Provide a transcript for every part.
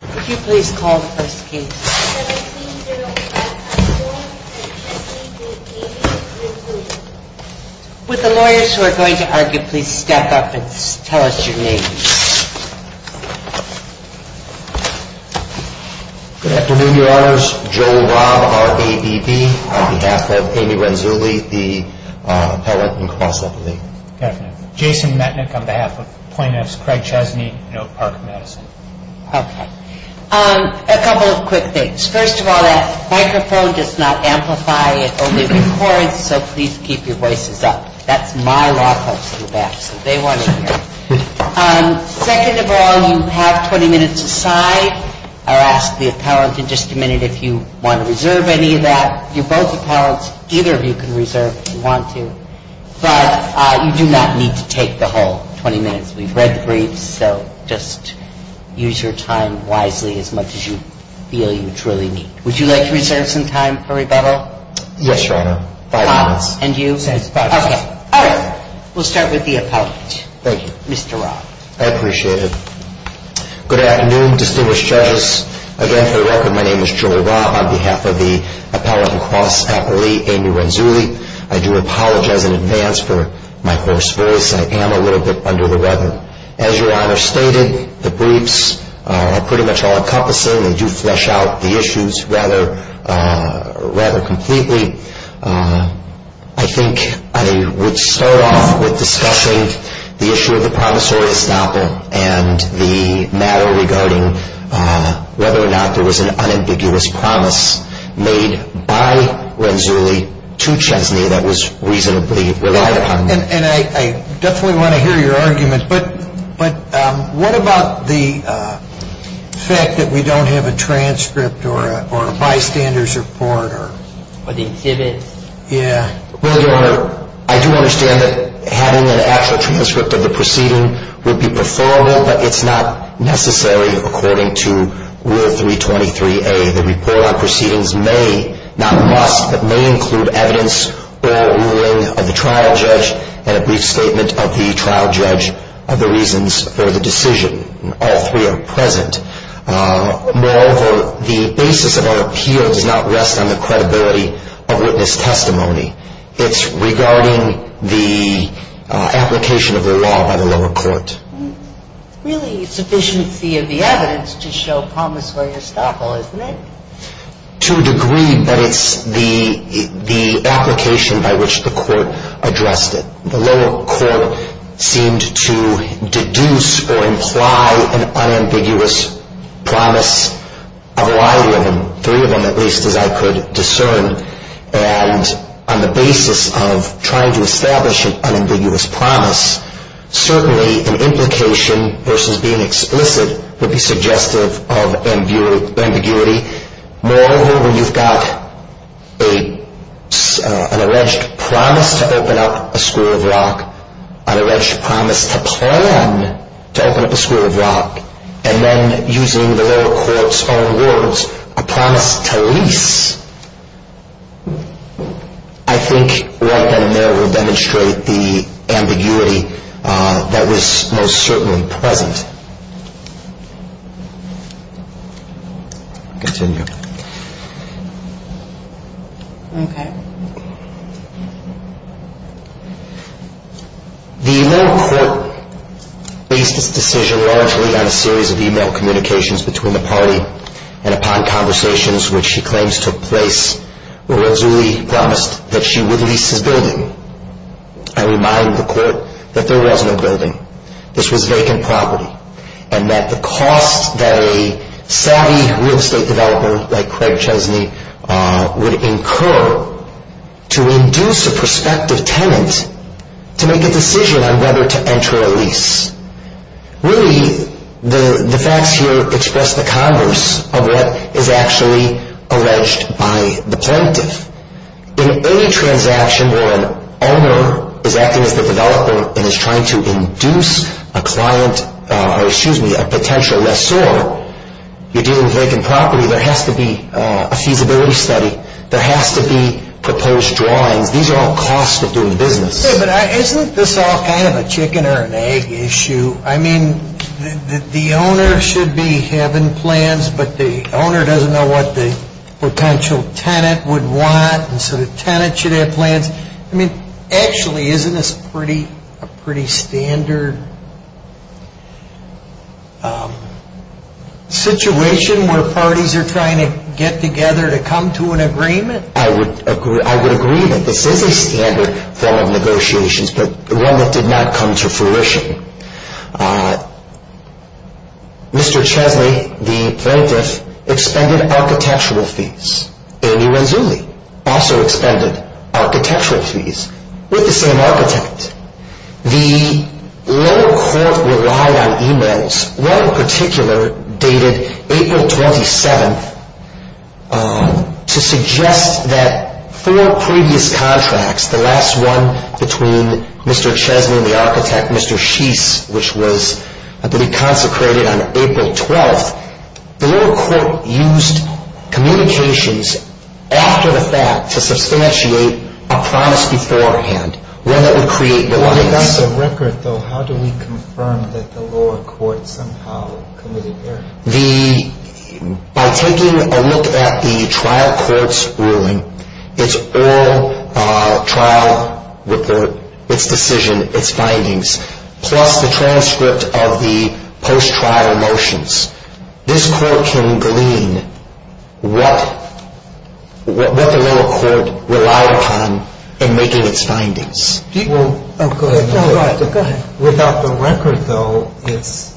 Could you please call the first case. With the lawyers who are going to argue, please step up and tell us your name. Good afternoon, your honors. Joe Robb of RABB on behalf of Amy Renzulli, the appellant in cross-examination. Good afternoon. Jason Metnick on behalf of plaintiffs. Craig Chesney, Note Park Medicine. Okay. A couple of quick things. First of all, that microphone does not amplify, it only records, so please keep your voices up. That's my law folks in the back, so they want to hear. Second of all, you have 20 minutes aside. I'll ask the appellant in just a minute if you want to reserve any of that. You're both appellants, either of you can reserve if you want to, but you do not need to take the whole 20 minutes. We've read the briefs, so just use your time wisely as much as you feel you truly need. Would you like to reserve some time for rebuttal? Yes, your honor. Five minutes. And you? Okay. All right. We'll start with the appellant. Thank you. Mr. Robb. I appreciate it. Good afternoon, distinguished judges. Again, for the record, my name is Joel Robb. On behalf of the appellant and cross-appellee, Amy Renzulli, I do apologize in advance for my hoarse voice. I am a little bit under the weather. As your honor stated, the briefs are pretty much all-encompassing. They do flesh out the issues rather completely. I think I would start off with discussing the issue of the promissory estoppel and the matter regarding whether or not there was an unambiguous promise made by Renzulli to Chesney that was reasonably relied upon. And I definitely want to hear your argument, but what about the fact that we don't have a transcript or a bystander's report? Yeah. Well, your honor, I do understand that having an actual transcript of the proceeding would be preferable, but it's not necessary according to Rule 323A. The report on proceedings may, not must, but may include evidence or ruling of the trial judge and a brief statement of the trial judge of the reasons for the decision. All three are present. Moreover, the basis of our appeal does not rest on the credibility of witness testimony. It's regarding the application of the law by the lower court. Really sufficiency of the evidence to show promissory estoppel, isn't it? To a degree, but it's the application by which the court addressed it. The lower court seemed to deduce or imply an unambiguous promise of a lot of them, three of them at least, as I could discern. And on the basis of trying to establish an unambiguous promise, certainly an implication versus being explicit would be suggestive of ambiguity. Moreover, when you've got an alleged promise to open up a school of rock, an alleged promise to plan to open up a school of rock, and then using the lower court's own words, a promise to lease, I think right then and there will demonstrate the ambiguity that was most certainly present. The lower court based its decision largely on a series of e-mail communications between the party and upon conversations which she claims took place where Rizzulli promised that she would lease his building. I remind the court that there wasn't a building. This was vacant property. And that the cost that a savvy real estate developer like Craig Chesney would incur to induce a prospective tenant to make a decision on whether to enter a lease. Really, the facts here express the converse of what is actually alleged by the plaintiff. In any transaction where an owner is acting as the developer and is trying to induce a client, or excuse me, a potential lessor, you're dealing with vacant property. There has to be a feasibility study. There has to be proposed drawings. These are all costs of doing business. Isn't this all kind of a chicken or an egg issue? I mean, the owner should be having plans, but the owner doesn't know what the potential tenant would want, and so the tenant should have plans. I mean, actually, isn't this a pretty standard situation where parties are trying to get together to come to an agreement? I would agree that this is a standard form of negotiations, but one that did not come to fruition. Mr. Chesney, the plaintiff, expended architectural fees. Amy Renzulli also expended architectural fees with the same architect. The lower court relied on e-mails, one in particular dated April 27th, to suggest that four previous contracts, the last one between Mr. Chesney and the architect, Mr. Sheese, which was, I believe, consecrated on April 12th, the lower court used communications after the fact to substantiate a promise beforehand, one that would create the limits. On the record, though, how do we confirm that the lower court somehow committed error? By taking a look at the trial court's ruling, its oral trial report, its decision, its findings, plus the transcript of the post-trial motions. This court can glean what the lower court relied upon in making its findings. Without the record, though, it's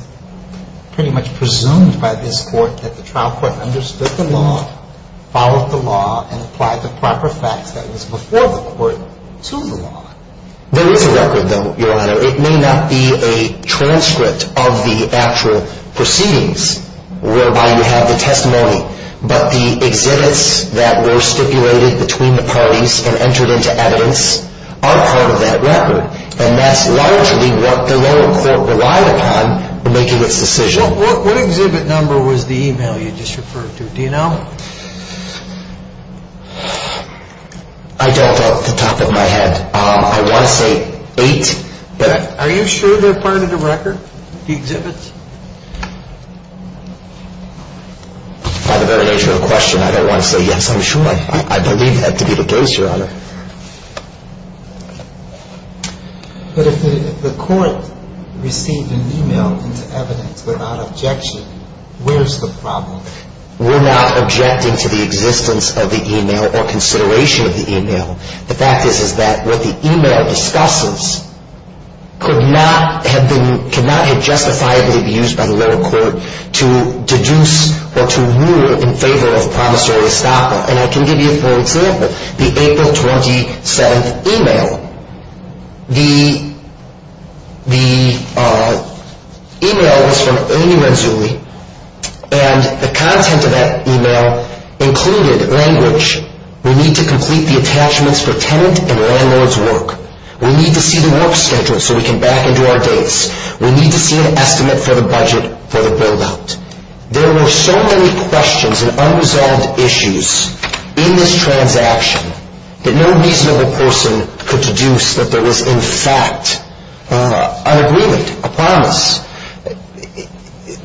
pretty much presumed by this court that the trial court understood the law, followed the law, and applied the proper facts that was before the court to the law. There is a record, though, Your Honor. It may not be a transcript of the actual proceedings whereby you have the testimony, but the exhibits that were stipulated between the parties and entered into evidence are part of that record, and that's largely what the lower court relied upon in making its decision. What exhibit number was the e-mail you just referred to? Do you know? I don't off the top of my head. I want to say eight. Are you sure they're part of the record, the exhibits? By the very nature of the question, I don't want to say yes, I'm sure. I believe that to be the case, Your Honor. But if the court received an e-mail into evidence without objection, where's the problem? We're not objecting to the existence of the e-mail or consideration of the e-mail. The fact is that what the e-mail discusses could not have justifiably been used by the lower court to deduce or to rule in favor of promissory estoppel. And I can give you a poor example. The April 27th e-mail, the e-mail was from Ernie Renzulli, and the content of that e-mail included language. We need to complete the attachments for tenant and landlord's work. We need to see the work schedule so we can back into our dates. We need to see an estimate for the budget for the build-out. There were so many questions and unresolved issues in this transaction that no reasonable person could deduce that there was, in fact, an agreement, a promise.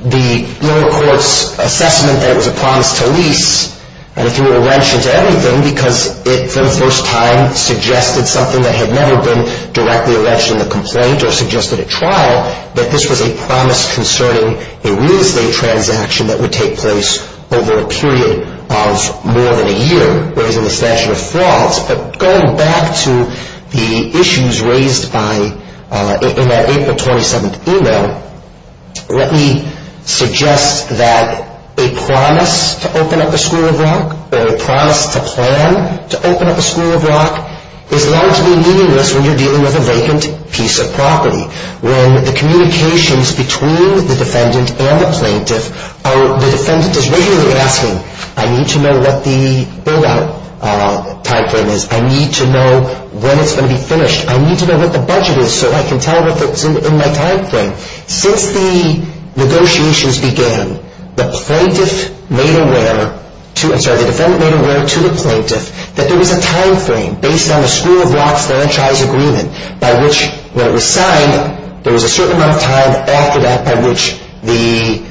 The lower court's assessment that it was a promise to lease, and it threw a wrench into everything because it, for the first time, suggested something that had never been directly alleged in the complaint or suggested at trial, that this was a promise concerning a real estate transaction that would take place over a period of more than a year, whereas in the statute of frauds, but going back to the issues raised in that April 27th e-mail, let me suggest that a promise to open up a school of rock, or a promise to plan to open up a school of rock, is largely meaningless when you're dealing with a vacant piece of property. When the communications between the defendant and the plaintiff are, the defendant is regularly asking, I need to know what the build-out time frame is, I need to know when it's going to be finished, I need to know what the budget is so I can tell if it's in my time frame. Since the negotiations began, the plaintiff made aware, I'm sorry, the defendant made aware to the plaintiff that there was a time frame based on the school of rock franchise agreement by which, when it was signed, there was a certain amount of time after that by which the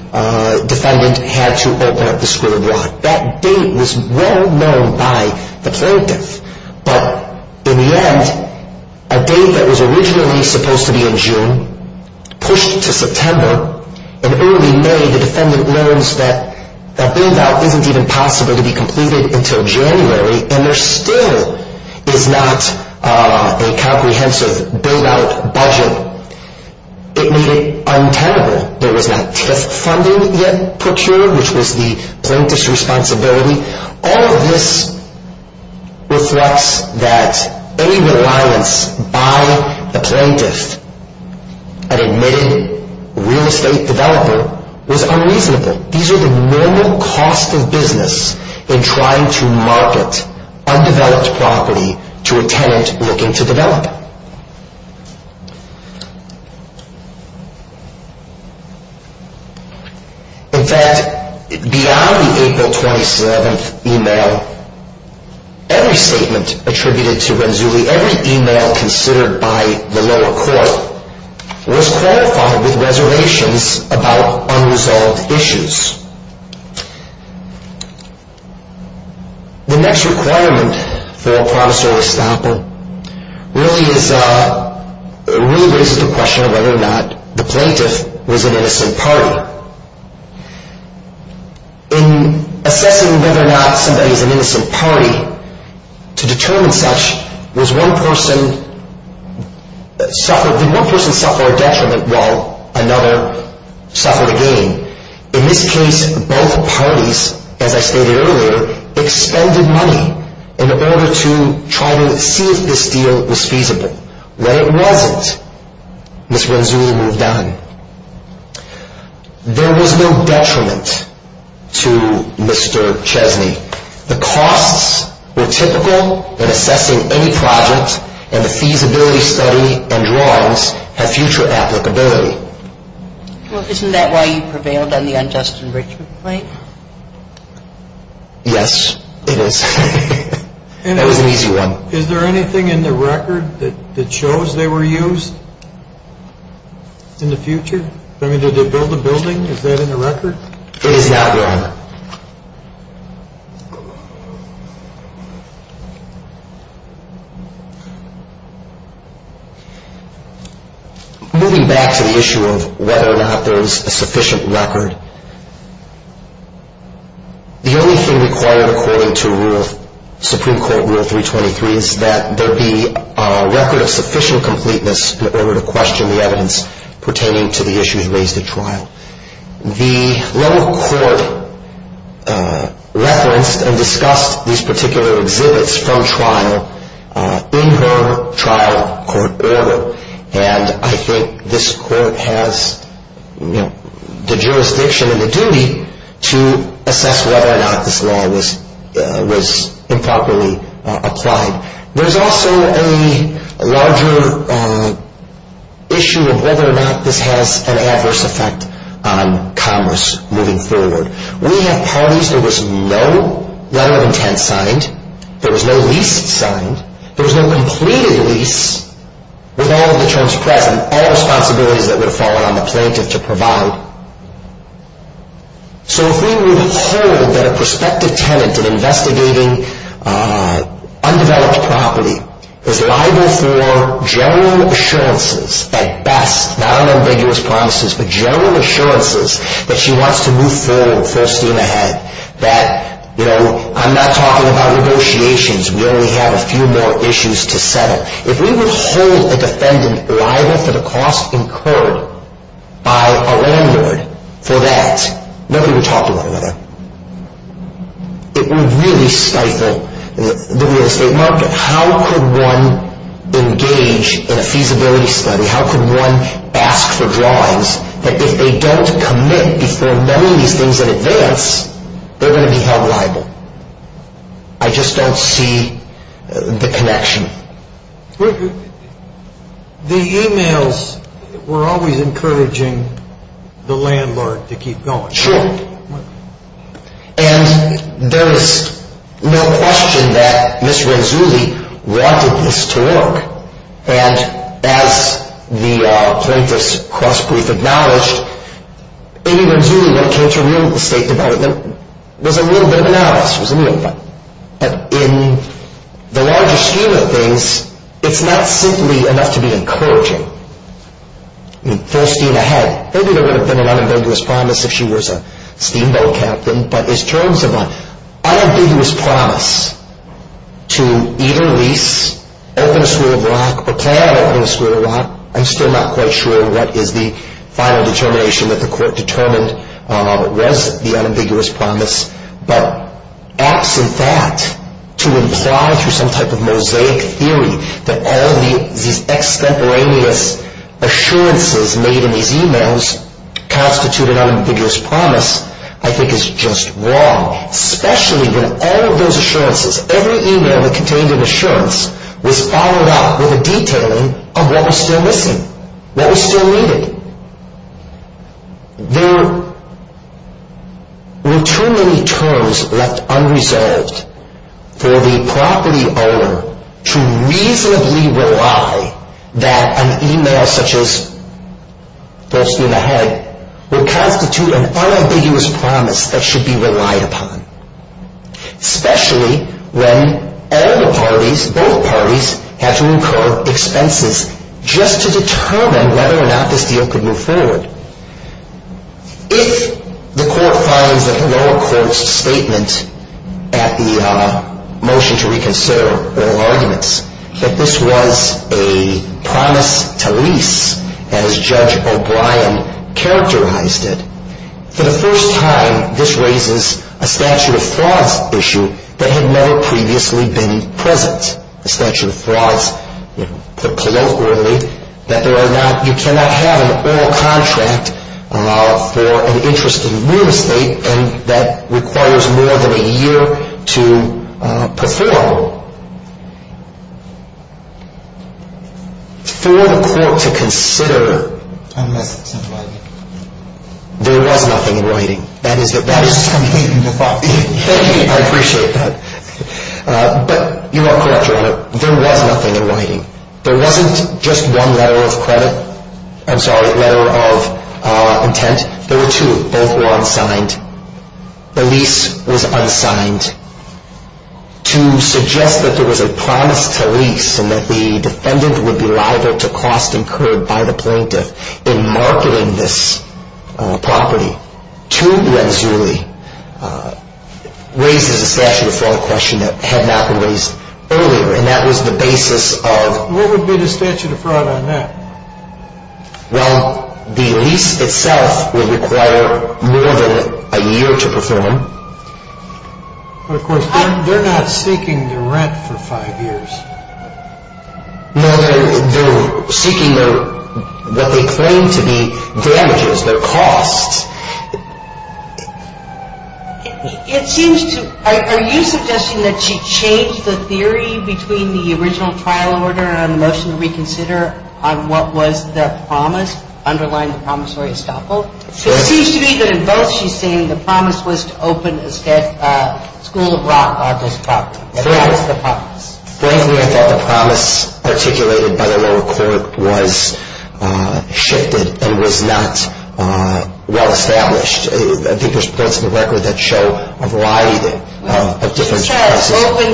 defendant had to open up the school of rock. That date was well known by the plaintiff, but in the end, a date that was originally supposed to be in June, pushed to September, and early May, the defendant learns that that build-out isn't even possible to be completed until January, and there still is not a comprehensive build-out budget. It made it untenable. There was not TIF funding yet procured, which was the plaintiff's responsibility. All of this reflects that any reliance by the plaintiff, an admitted real estate developer, was unreasonable. These are the normal costs of business in trying to market undeveloped property to a tenant looking to develop. In fact, beyond the April 27th email, every statement attributed to Renzulli, every email considered by the lower court, was qualified with reservations about unresolved issues. The next requirement for a promissory stample really raises the question of whether or not the plaintiff was an innocent party. In assessing whether or not somebody was an innocent party, to determine such, did one person suffer a detriment while another suffered a gain? In this case, both parties, as I stated earlier, expended money in order to try to see if this deal was feasible. When it wasn't, Ms. Renzulli moved on. There was no detriment to Mr. Chesney. The costs were typical in assessing any project, and the feasibility study and drawings have future applicability. Well, isn't that why you prevailed on the unjust enrichment claim? Yes, it is. That was an easy one. Is there anything in the record that shows they were used in the future? I mean, did they build a building? Is that in the record? It is not, Your Honor. Moving back to the issue of whether or not there is a sufficient record, the only thing required according to Supreme Court Rule 323 is that there be a record of sufficient completeness in order to question the evidence pertaining to the issues raised at trial. The lower court referenced and discussed these particular exhibits from trial in her trial court order, and I think this court has the jurisdiction and the duty to assess whether or not this law was improperly applied. There's also a larger issue of whether or not this has an adverse effect on commerce moving forward. We have parties. There was no letter of intent signed. There was no lease signed. There was no completed lease with all of the terms present, all responsibilities that would have fallen on the plaintiff to provide. So if we would hold that a prospective tenant investigating undeveloped property is liable for general assurances at best, not on ambiguous promises, but general assurances that she wants to move forward, foreseen ahead, that, you know, I'm not talking about negotiations. We only have a few more issues to settle. If we would hold a defendant liable for the cost incurred by a landlord for that, nobody would talk to one another. It would really stifle the real estate market. How could one engage in a feasibility study? How could one ask for drawings that if they don't commit before knowing these things in advance, they're going to be held liable? I just don't see the connection. The e-mails were always encouraging the landlord to keep going. Sure. And there is no question that Ms. Renzulli wanted this to work. And as the plaintiff's cross-brief acknowledged, Amy Renzulli, when it came to real estate development, was a little bit of an analyst. But in the larger scheme of things, it's not simply enough to be encouraging. Foreseen ahead. Maybe there would have been an unambiguous promise if she was a steamboat captain. But in terms of an unambiguous promise to either lease, open a school of rock, or plan on opening a school of rock, I'm still not quite sure what is the final determination that the court determined was the unambiguous promise. But absent that, to imply through some type of mosaic theory that all these extemporaneous assurances made in these e-mails constitute an unambiguous promise, I think is just wrong. Especially when all of those assurances, every e-mail that contained an assurance, was followed up with a detailing of what was still missing, what was still needed. There were too many terms left unresolved for the property owner to reasonably rely that an e-mail such as foreseen ahead would constitute an unambiguous promise that should be relied upon. Especially when all the parties, both parties, had to incur expenses just to determine whether or not this deal could move forward. If the court finds that the lower court's statement at the motion to reconsider oral arguments, that this was a promise to lease as Judge O'Brien characterized it, for the first time this raises a statute of frauds issue that had never previously been present. A statute of frauds, put colloquially, that you cannot have an oral contract for an interest in real estate and that requires more than a year to perform. So, for the court to consider, there was nothing in writing. That is the best I can think of. Thank you, I appreciate that. But, you are correct, Your Honor, there was nothing in writing. There wasn't just one letter of credit, I'm sorry, letter of intent. There were two. Both were unsigned. The lease was unsigned. To suggest that there was a promise to lease and that the defendant would be liable to cost incurred by the plaintiff in marketing this property to Renzulli, raises a statute of fraud question that had not been raised earlier. And that was the basis of... What would be the statute of fraud on that? Well, the lease itself would require more than a year to perform. Of course, they're not seeking the rent for five years. No, they're seeking what they claim to be damages, their costs. It seems to... Are you suggesting that she changed the theory between the original trial order and the motion to reconsider on what was the promise, underlying the promissory estoppel? It seems to me that in both she's saying the promise was to open a school of rock on this property. That was the promise. Frankly, I thought the promise articulated by the lower court was shifted and was not well-established. I think there's points in the record that show a variety of different... She said open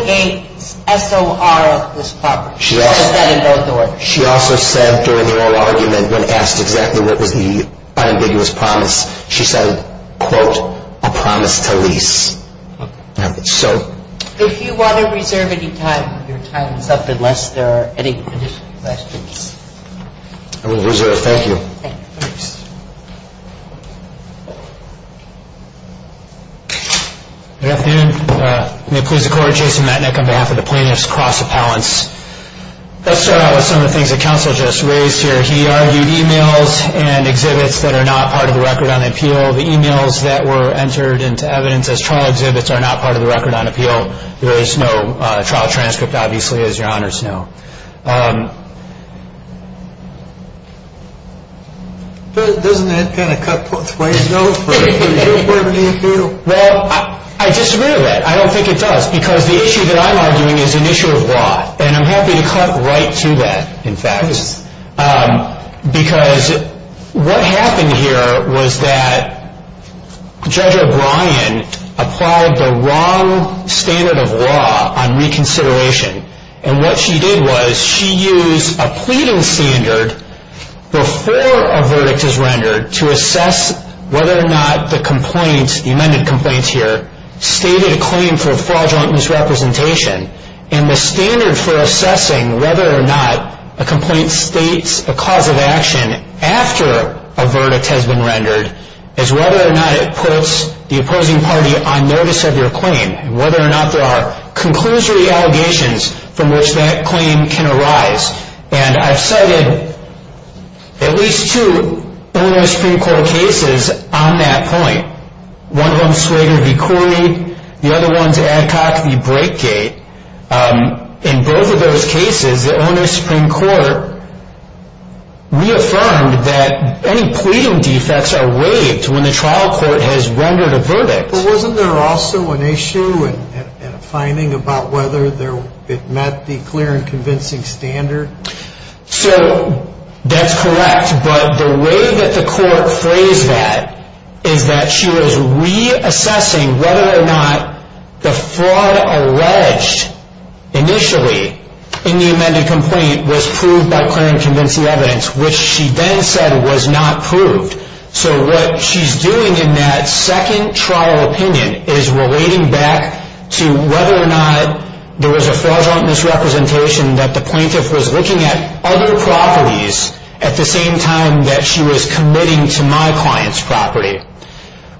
a SOR on this property. She also said during the oral argument, when asked exactly what was the unambiguous promise, she said, quote, a promise to lease. If you want to reserve any time, your time is up unless there are any additional questions. I will reserve. Thank you. Thank you. Good afternoon. May it please the Court, Jason Matnik on behalf of the Plaintiffs Cross Appellants. Let's start out with some of the things that counsel just raised here. He argued emails and exhibits that are not part of the record on appeal. The emails that were entered into evidence as trial exhibits are not part of the record on appeal. There is no trial transcript, obviously, as Your Honor's know. Doesn't that kind of cut both ways, though? Well, I disagree with that. I don't think it does because the issue that I'm arguing is an issue of law. And I'm happy to cut right to that, in fact. Because what happened here was that Judge O'Brien applied the wrong standard of law on reconsideration. And what she did was she used a pleading standard before a verdict is rendered to assess whether or not the complaint, the amended complaint here, stated a claim for fraudulent misrepresentation. And the standard for assessing whether or not a complaint states a cause of action after a verdict has been rendered is whether or not it puts the opposing party on notice of your claim, and whether or not there are conclusory allegations from which that claim can arise. And I've cited at least two Illinois Supreme Court cases on that point. One of them, Sueda v. Corey. The other one's Adcock v. Breakgate. In both of those cases, the Illinois Supreme Court reaffirmed that any pleading defects are waived when the trial court has rendered a verdict. But wasn't there also an issue and a finding about whether it met the clear and convincing standard? So that's correct. But the way that the court phrased that is that she was reassessing whether or not the fraud alleged initially in the amended complaint was proved by clear and convincing evidence, which she then said was not proved. So what she's doing in that second trial opinion is relating back to whether or not there was a fraudulent misrepresentation that the plaintiff was looking at other properties at the same time that she was committing to my client's property.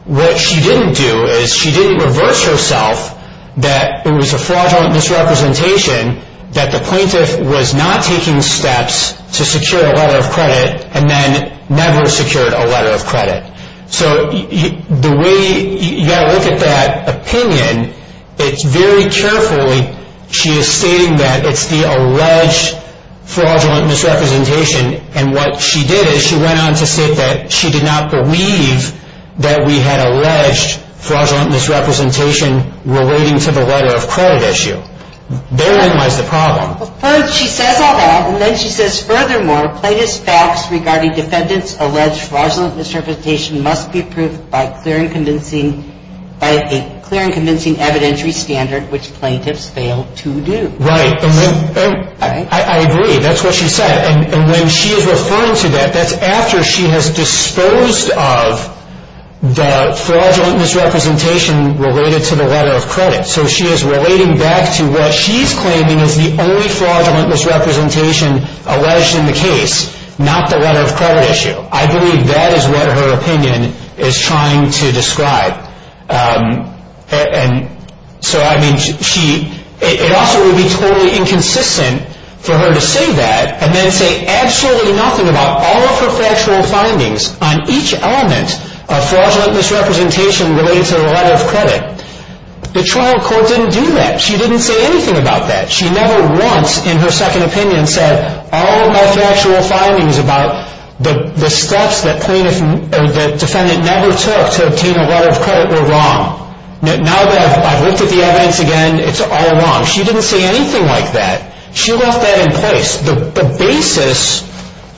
What she didn't do is she didn't reverse herself that it was a fraudulent misrepresentation that the plaintiff was not taking steps to secure a letter of credit and then never secured a letter of credit. So the way you got to look at that opinion, it's very carefully she is stating that it's the alleged fraudulent misrepresentation. And what she did is she went on to say that she did not believe that we had alleged fraudulent misrepresentation relating to the letter of credit issue. Therein lies the problem. First she says all that and then she says, furthermore, plaintiff's facts regarding defendant's alleged fraudulent misrepresentation must be proved by a clear and convincing evidentiary standard which plaintiffs fail to do. Right. I agree. That's what she said. And when she is referring to that, that's after she has disposed of the fraudulent misrepresentation related to the letter of credit. So she is relating back to what she is claiming is the only fraudulent misrepresentation alleged in the case, not the letter of credit issue. I believe that is what her opinion is trying to describe. And so, I mean, she, it also would be totally inconsistent for her to say that and then say absolutely nothing about all of her factual findings on each element of fraudulent misrepresentation related to the letter of credit. The trial court didn't do that. She didn't say anything about that. She never once in her second opinion said all of my factual findings about the steps that plaintiff, that defendant never took to obtain a letter of credit were wrong. Now that I've looked at the evidence again, it's all wrong. She didn't say anything like that. She left that in place. The basis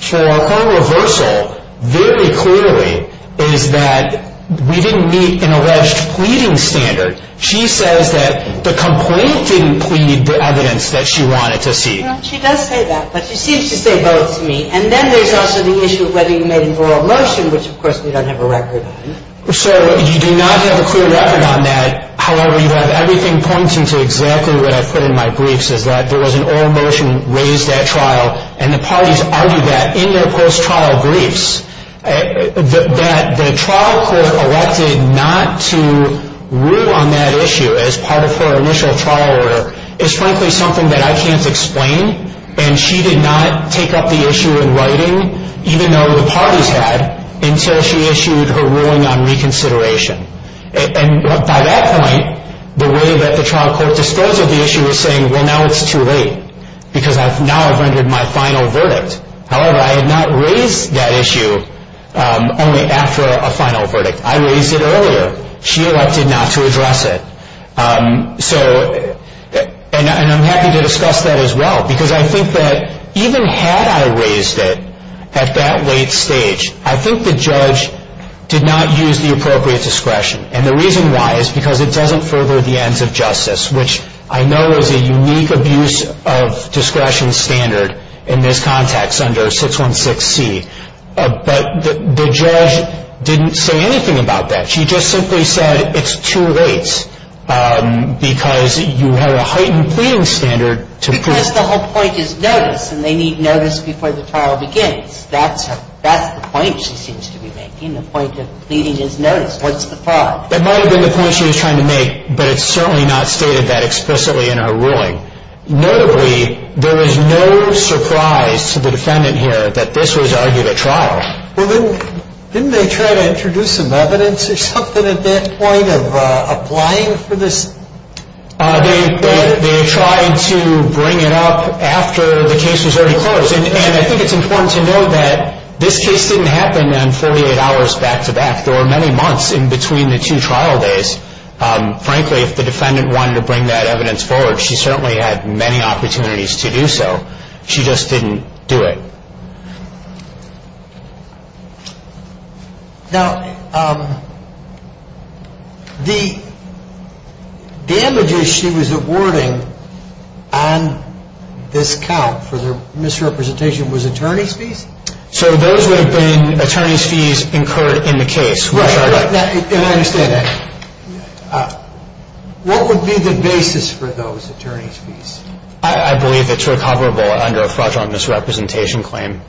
for her reversal very clearly is that we didn't meet an alleged pleading standard. She says that the complaint didn't plead the evidence that she wanted to see. She does say that, but she seems to say both to me. And then there is also the issue of whether you made an oral motion, which of course we don't have a record on. So you do not have a clear record on that. However, you have everything pointing to exactly what I put in my briefs is that there was an oral motion raised at trial, and the parties argued that in their post-trial briefs that the trial court elected not to rule on that issue as part of her initial trial order is frankly something that I can't explain. And she did not take up the issue in writing, even though the parties had, until she issued her ruling on reconsideration. And by that point, the way that the trial court disposed of the issue was saying, well, now it's too late because now I've rendered my final verdict. However, I had not raised that issue only after a final verdict. I raised it earlier. She elected not to address it. And I'm happy to discuss that as well because I think that even had I raised it at that late stage, I think the judge did not use the appropriate discretion. And the reason why is because it doesn't further the ends of justice, which I know is a unique abuse of discretion standard in this context under 616C. But the judge didn't say anything about that. She just simply said it's too late because you have a heightened pleading standard to prove it. And that's the point she seems to be making. The point of pleading is notice. What's the problem? That might have been the point she was trying to make, but it's certainly not stated that explicitly in her ruling. Notably, there is no surprise to the defendant here that this was argued at trial. Well, didn't they try to introduce some evidence or something at that point of applying for this? They tried to bring it up after the case was already closed. And I think it's important to note that this case didn't happen in 48 hours back-to-back. There were many months in between the two trial days. Frankly, if the defendant wanted to bring that evidence forward, she certainly had many opportunities to do so. She just didn't do it. Now, the damages she was awarding on this count for the misrepresentation was attorney's fees? So those would have been attorney's fees incurred in the case. Right. And I understand that. I believe it's recoverable under a fraudulent misrepresentation claim.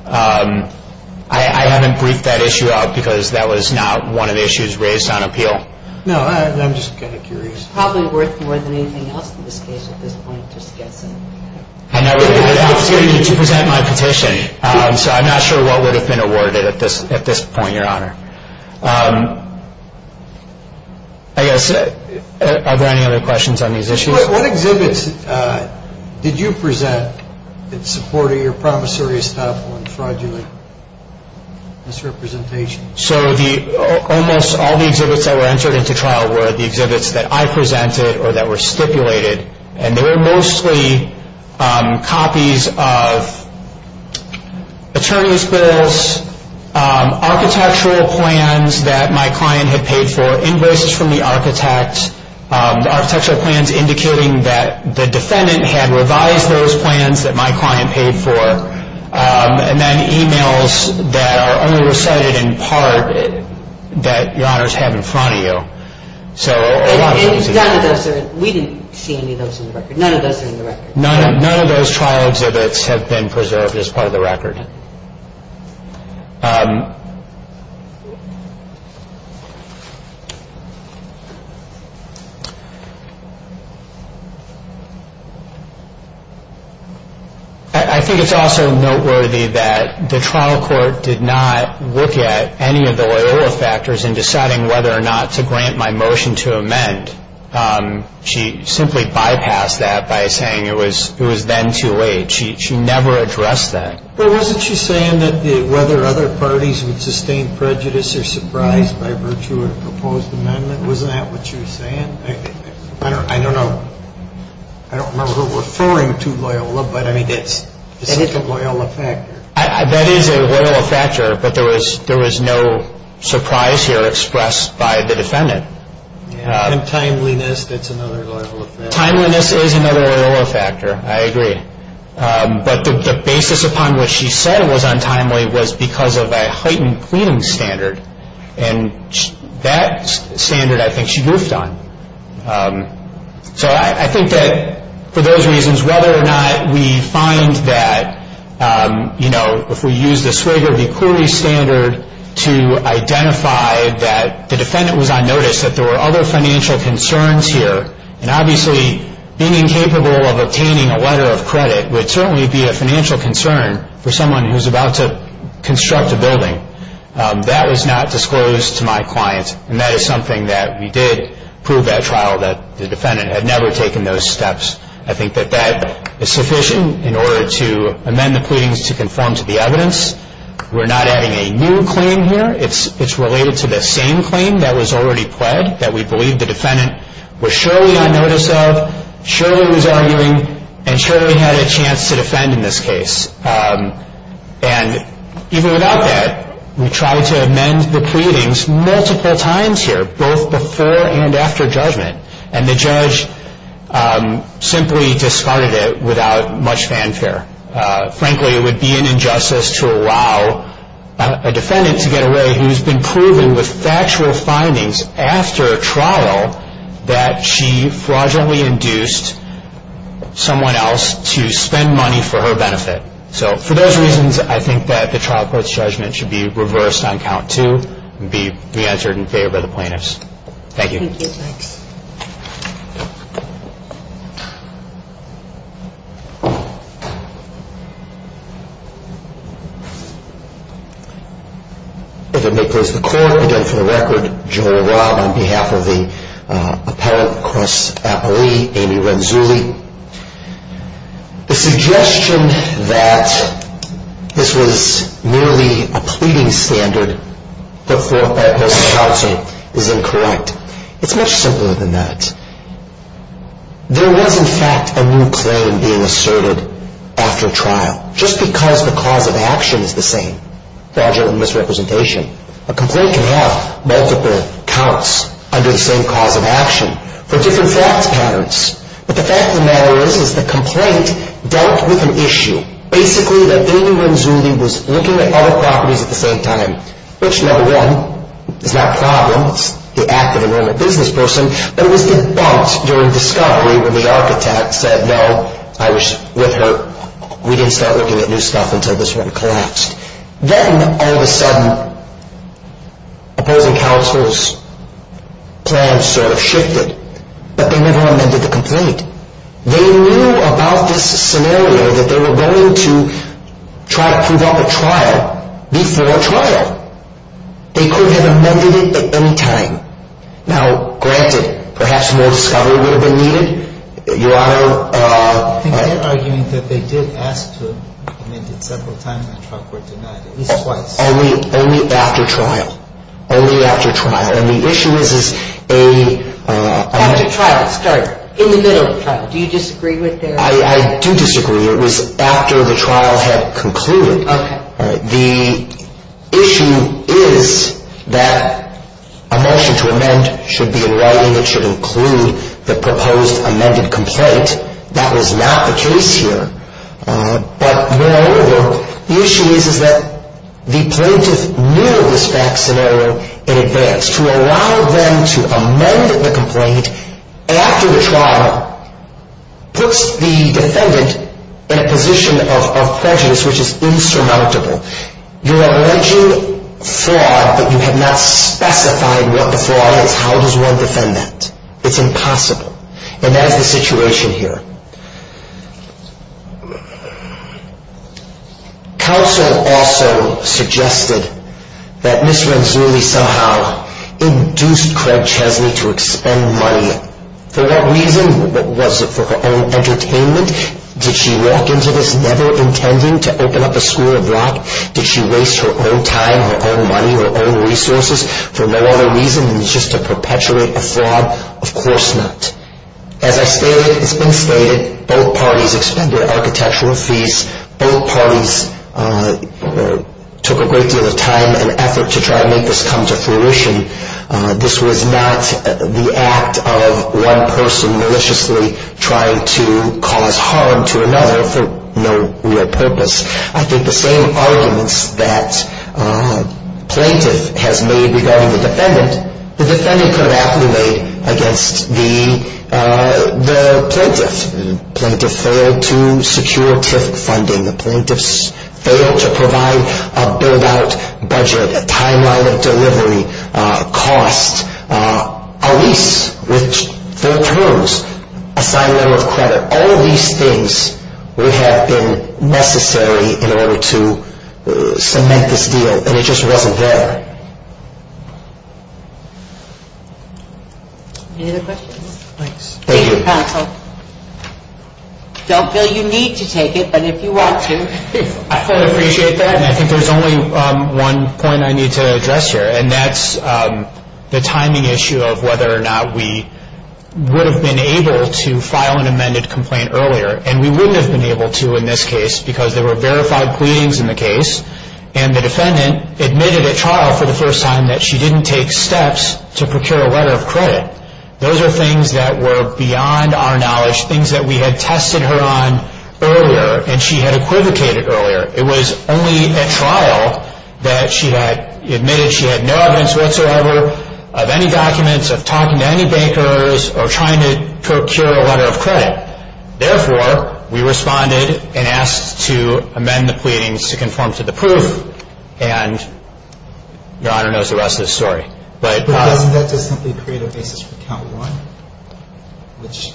I haven't briefed that issue out because that was not one of the issues raised on appeal. No, I'm just kind of curious. It's probably worth more than anything else in this case at this point, just guessing. I know. It's going to need to present my petition. So I'm not sure what would have been awarded at this point, Your Honor. I guess, are there any other questions on these issues? What exhibits did you present in support of your promissory, estoppel, and fraudulent misrepresentation? So almost all the exhibits that were entered into trial were the exhibits that I presented or that were stipulated. And they were mostly copies of attorney's bills, architectural plans that my client had paid for, invoices from the architect. The architectural plans indicating that the defendant had revised those plans that my client paid for. And then emails that are only recited in part that Your Honor's have in front of you. So a lot of those. We didn't see any of those in the record. None of those are in the record. None of those trial exhibits have been preserved as part of the record. I think it's also noteworthy that the trial court did not look at any of the Loyola factors in deciding whether or not to grant my motion to amend. She simply bypassed that by saying it was then too late. She never addressed that. But wasn't she saying that whether other parties would sustain prejudice or surprise by virtue of a proposed amendment? Wasn't that what she was saying? I don't know. I don't remember her referring to Loyola, but I mean, it's such a Loyola factor. That is a Loyola factor, but there was no surprise here expressed by the defendant. And timeliness, that's another Loyola factor. Timeliness is another Loyola factor. I agree. But the basis upon which she said it was untimely was because of a heightened pleading standard. And that standard I think she goofed on. So I think that for those reasons, whether or not we find that, you know, if we use the Swigert v. Corey standard to identify that the defendant was on notice, that there were other financial concerns here. And obviously being incapable of obtaining a letter of credit would certainly be a financial concern for someone who's about to construct a building. That was not disclosed to my client, and that is something that we did prove at trial, that the defendant had never taken those steps. I think that that is sufficient in order to amend the pleadings to conform to the evidence. We're not adding a new claim here. It's related to the same claim that was already pled that we believe the defendant was surely on notice of, surely was arguing, and surely had a chance to defend in this case. And even without that, we tried to amend the pleadings multiple times here, both before and after judgment, and the judge simply discarded it without much fanfare. Frankly, it would be an injustice to allow a defendant to get away who's been proven with factual findings after trial that she fraudulently induced someone else to spend money for her benefit. So for those reasons, I think that the trial court's judgment should be reversed on count two and be re-entered in favor of the plaintiffs. Thank you. Thank you, Jax. If I may close the court, I do it for the record. Joel Robb on behalf of the appellate across Appalachia, Amy Renzulli. The suggestion that this was merely a pleading standard but for a post-counsel is incorrect. It's much simpler than that. There was, in fact, a new claim being asserted after trial. Just because the cause of action is the same, fraudulent misrepresentation, a complaint can have multiple counts under the same cause of action for different fact patterns. But the fact of the matter is, is the complaint dealt with an issue. Basically, that Amy Renzulli was looking at other properties at the same time, which, number one, is not a problem. It's the act of a normal business person. But it was debunked during discovery when the architect said, no, I was with her, we didn't start looking at new stuff until this one collapsed. Then, all of a sudden, opposing counsel's plan sort of shifted. But they never amended the complaint. They knew about this scenario that they were going to try to prove up at trial before trial. They could have amended it at any time. Now, granted, perhaps more discovery would have been needed. Your Honor. They're arguing that they did ask to amend it several times and the trial court denied it, at least twice. Only after trial. Only after trial. And the issue is, is a- After trial. Start. In the middle of the trial. Do you disagree with their- I do disagree. It was after the trial had concluded. Okay. The issue is that a motion to amend should be a right and it should include the proposed amended complaint. That was not the case here. But, moreover, the issue is that the plaintiff knew of this back scenario in advance. To allow them to amend the complaint after the trial puts the defendant in a position of prejudice which is insurmountable. You're alleging fraud but you have not specified what the fraud is. How does one defend that? It's impossible. And that is the situation here. Counsel also suggested that Ms. Ranzulli somehow induced Craig Chesney to expend money. For what reason? Was it for her own entertainment? Did she walk into this never intending to open up a school of rock? Did she waste her own time, her own money, her own resources for no other reason than just to perpetuate a fraud? Of course not. As has been stated, both parties expended architectural fees. Both parties took a great deal of time and effort to try to make this come to fruition. This was not the act of one person maliciously trying to cause harm to another for no real purpose. I think the same arguments that plaintiff has made regarding the defendant, the defendant could have actually made against the plaintiff. The plaintiff failed to secure TIF funding. The plaintiffs failed to provide a build-out budget, a timeline of delivery, cost, a lease with full terms, assigned level of credit. All of these things would have been necessary in order to cement this deal, and it just wasn't there. Any other questions? Thank you. Thank you, counsel. Don't feel you need to take it, but if you want to. I fully appreciate that, and I think there's only one point I need to address here, and that's the timing issue of whether or not we would have been able to file an amended complaint earlier, and we wouldn't have been able to in this case because there were verified pleadings in the case, and the defendant admitted at trial for the first time that she didn't take steps to procure a letter of credit. Those are things that were beyond our knowledge, things that we had tested her on earlier, and she had equivocated earlier. It was only at trial that she had admitted she had no evidence whatsoever of any documents, of talking to any bankers, or trying to procure a letter of credit. Therefore, we responded and asked to amend the pleadings to conform to the proof, and Your Honor knows the rest of the story. But doesn't that just simply create a basis for count one, which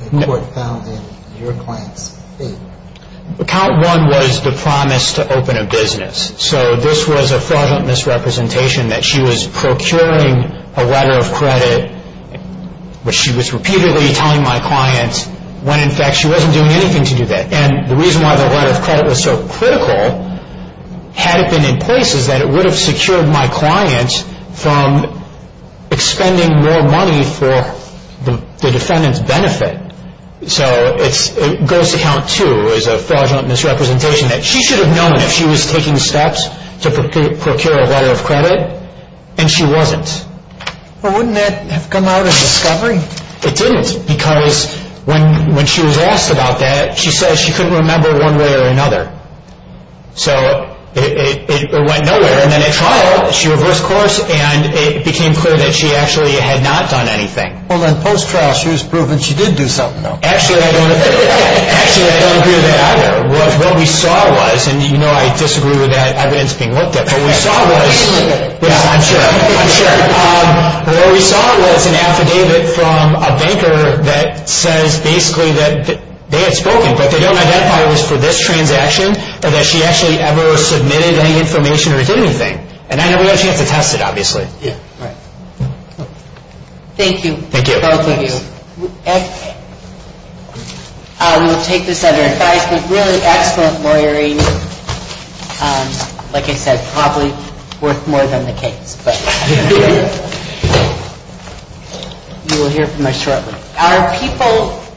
the court found in your client's favor? Count one was the promise to open a business. So this was a fraudulent misrepresentation that she was procuring a letter of credit, which she was repeatedly telling my client, when in fact she wasn't doing anything to do that. And the reason why the letter of credit was so critical, had it been in place, is that it would have secured my client from expending more money for the defendant's benefit. So it goes to count two, which is a fraudulent misrepresentation, that she should have known if she was taking steps to procure a letter of credit, and she wasn't. Well, wouldn't that have come out in discovery? It didn't, because when she was asked about that, she said she couldn't remember one way or another. So it went nowhere, and then at trial, she reversed course, and it became clear that she actually had not done anything. Well, then post-trial, she was proven she did do something, though. Actually, I don't agree with that either. What we saw was, and you know I disagree with that evidence being looked at, but what we saw was an affidavit from a banker that says basically that they had spoken, but they don't identify it was for this transaction, or that she actually ever submitted any information or did anything. And I never got a chance to test it, obviously. Thank you, both of you. We will take this under advisement. Really excellent lawyering. Like I said, probably worth more than the case, but you will hear from us shortly.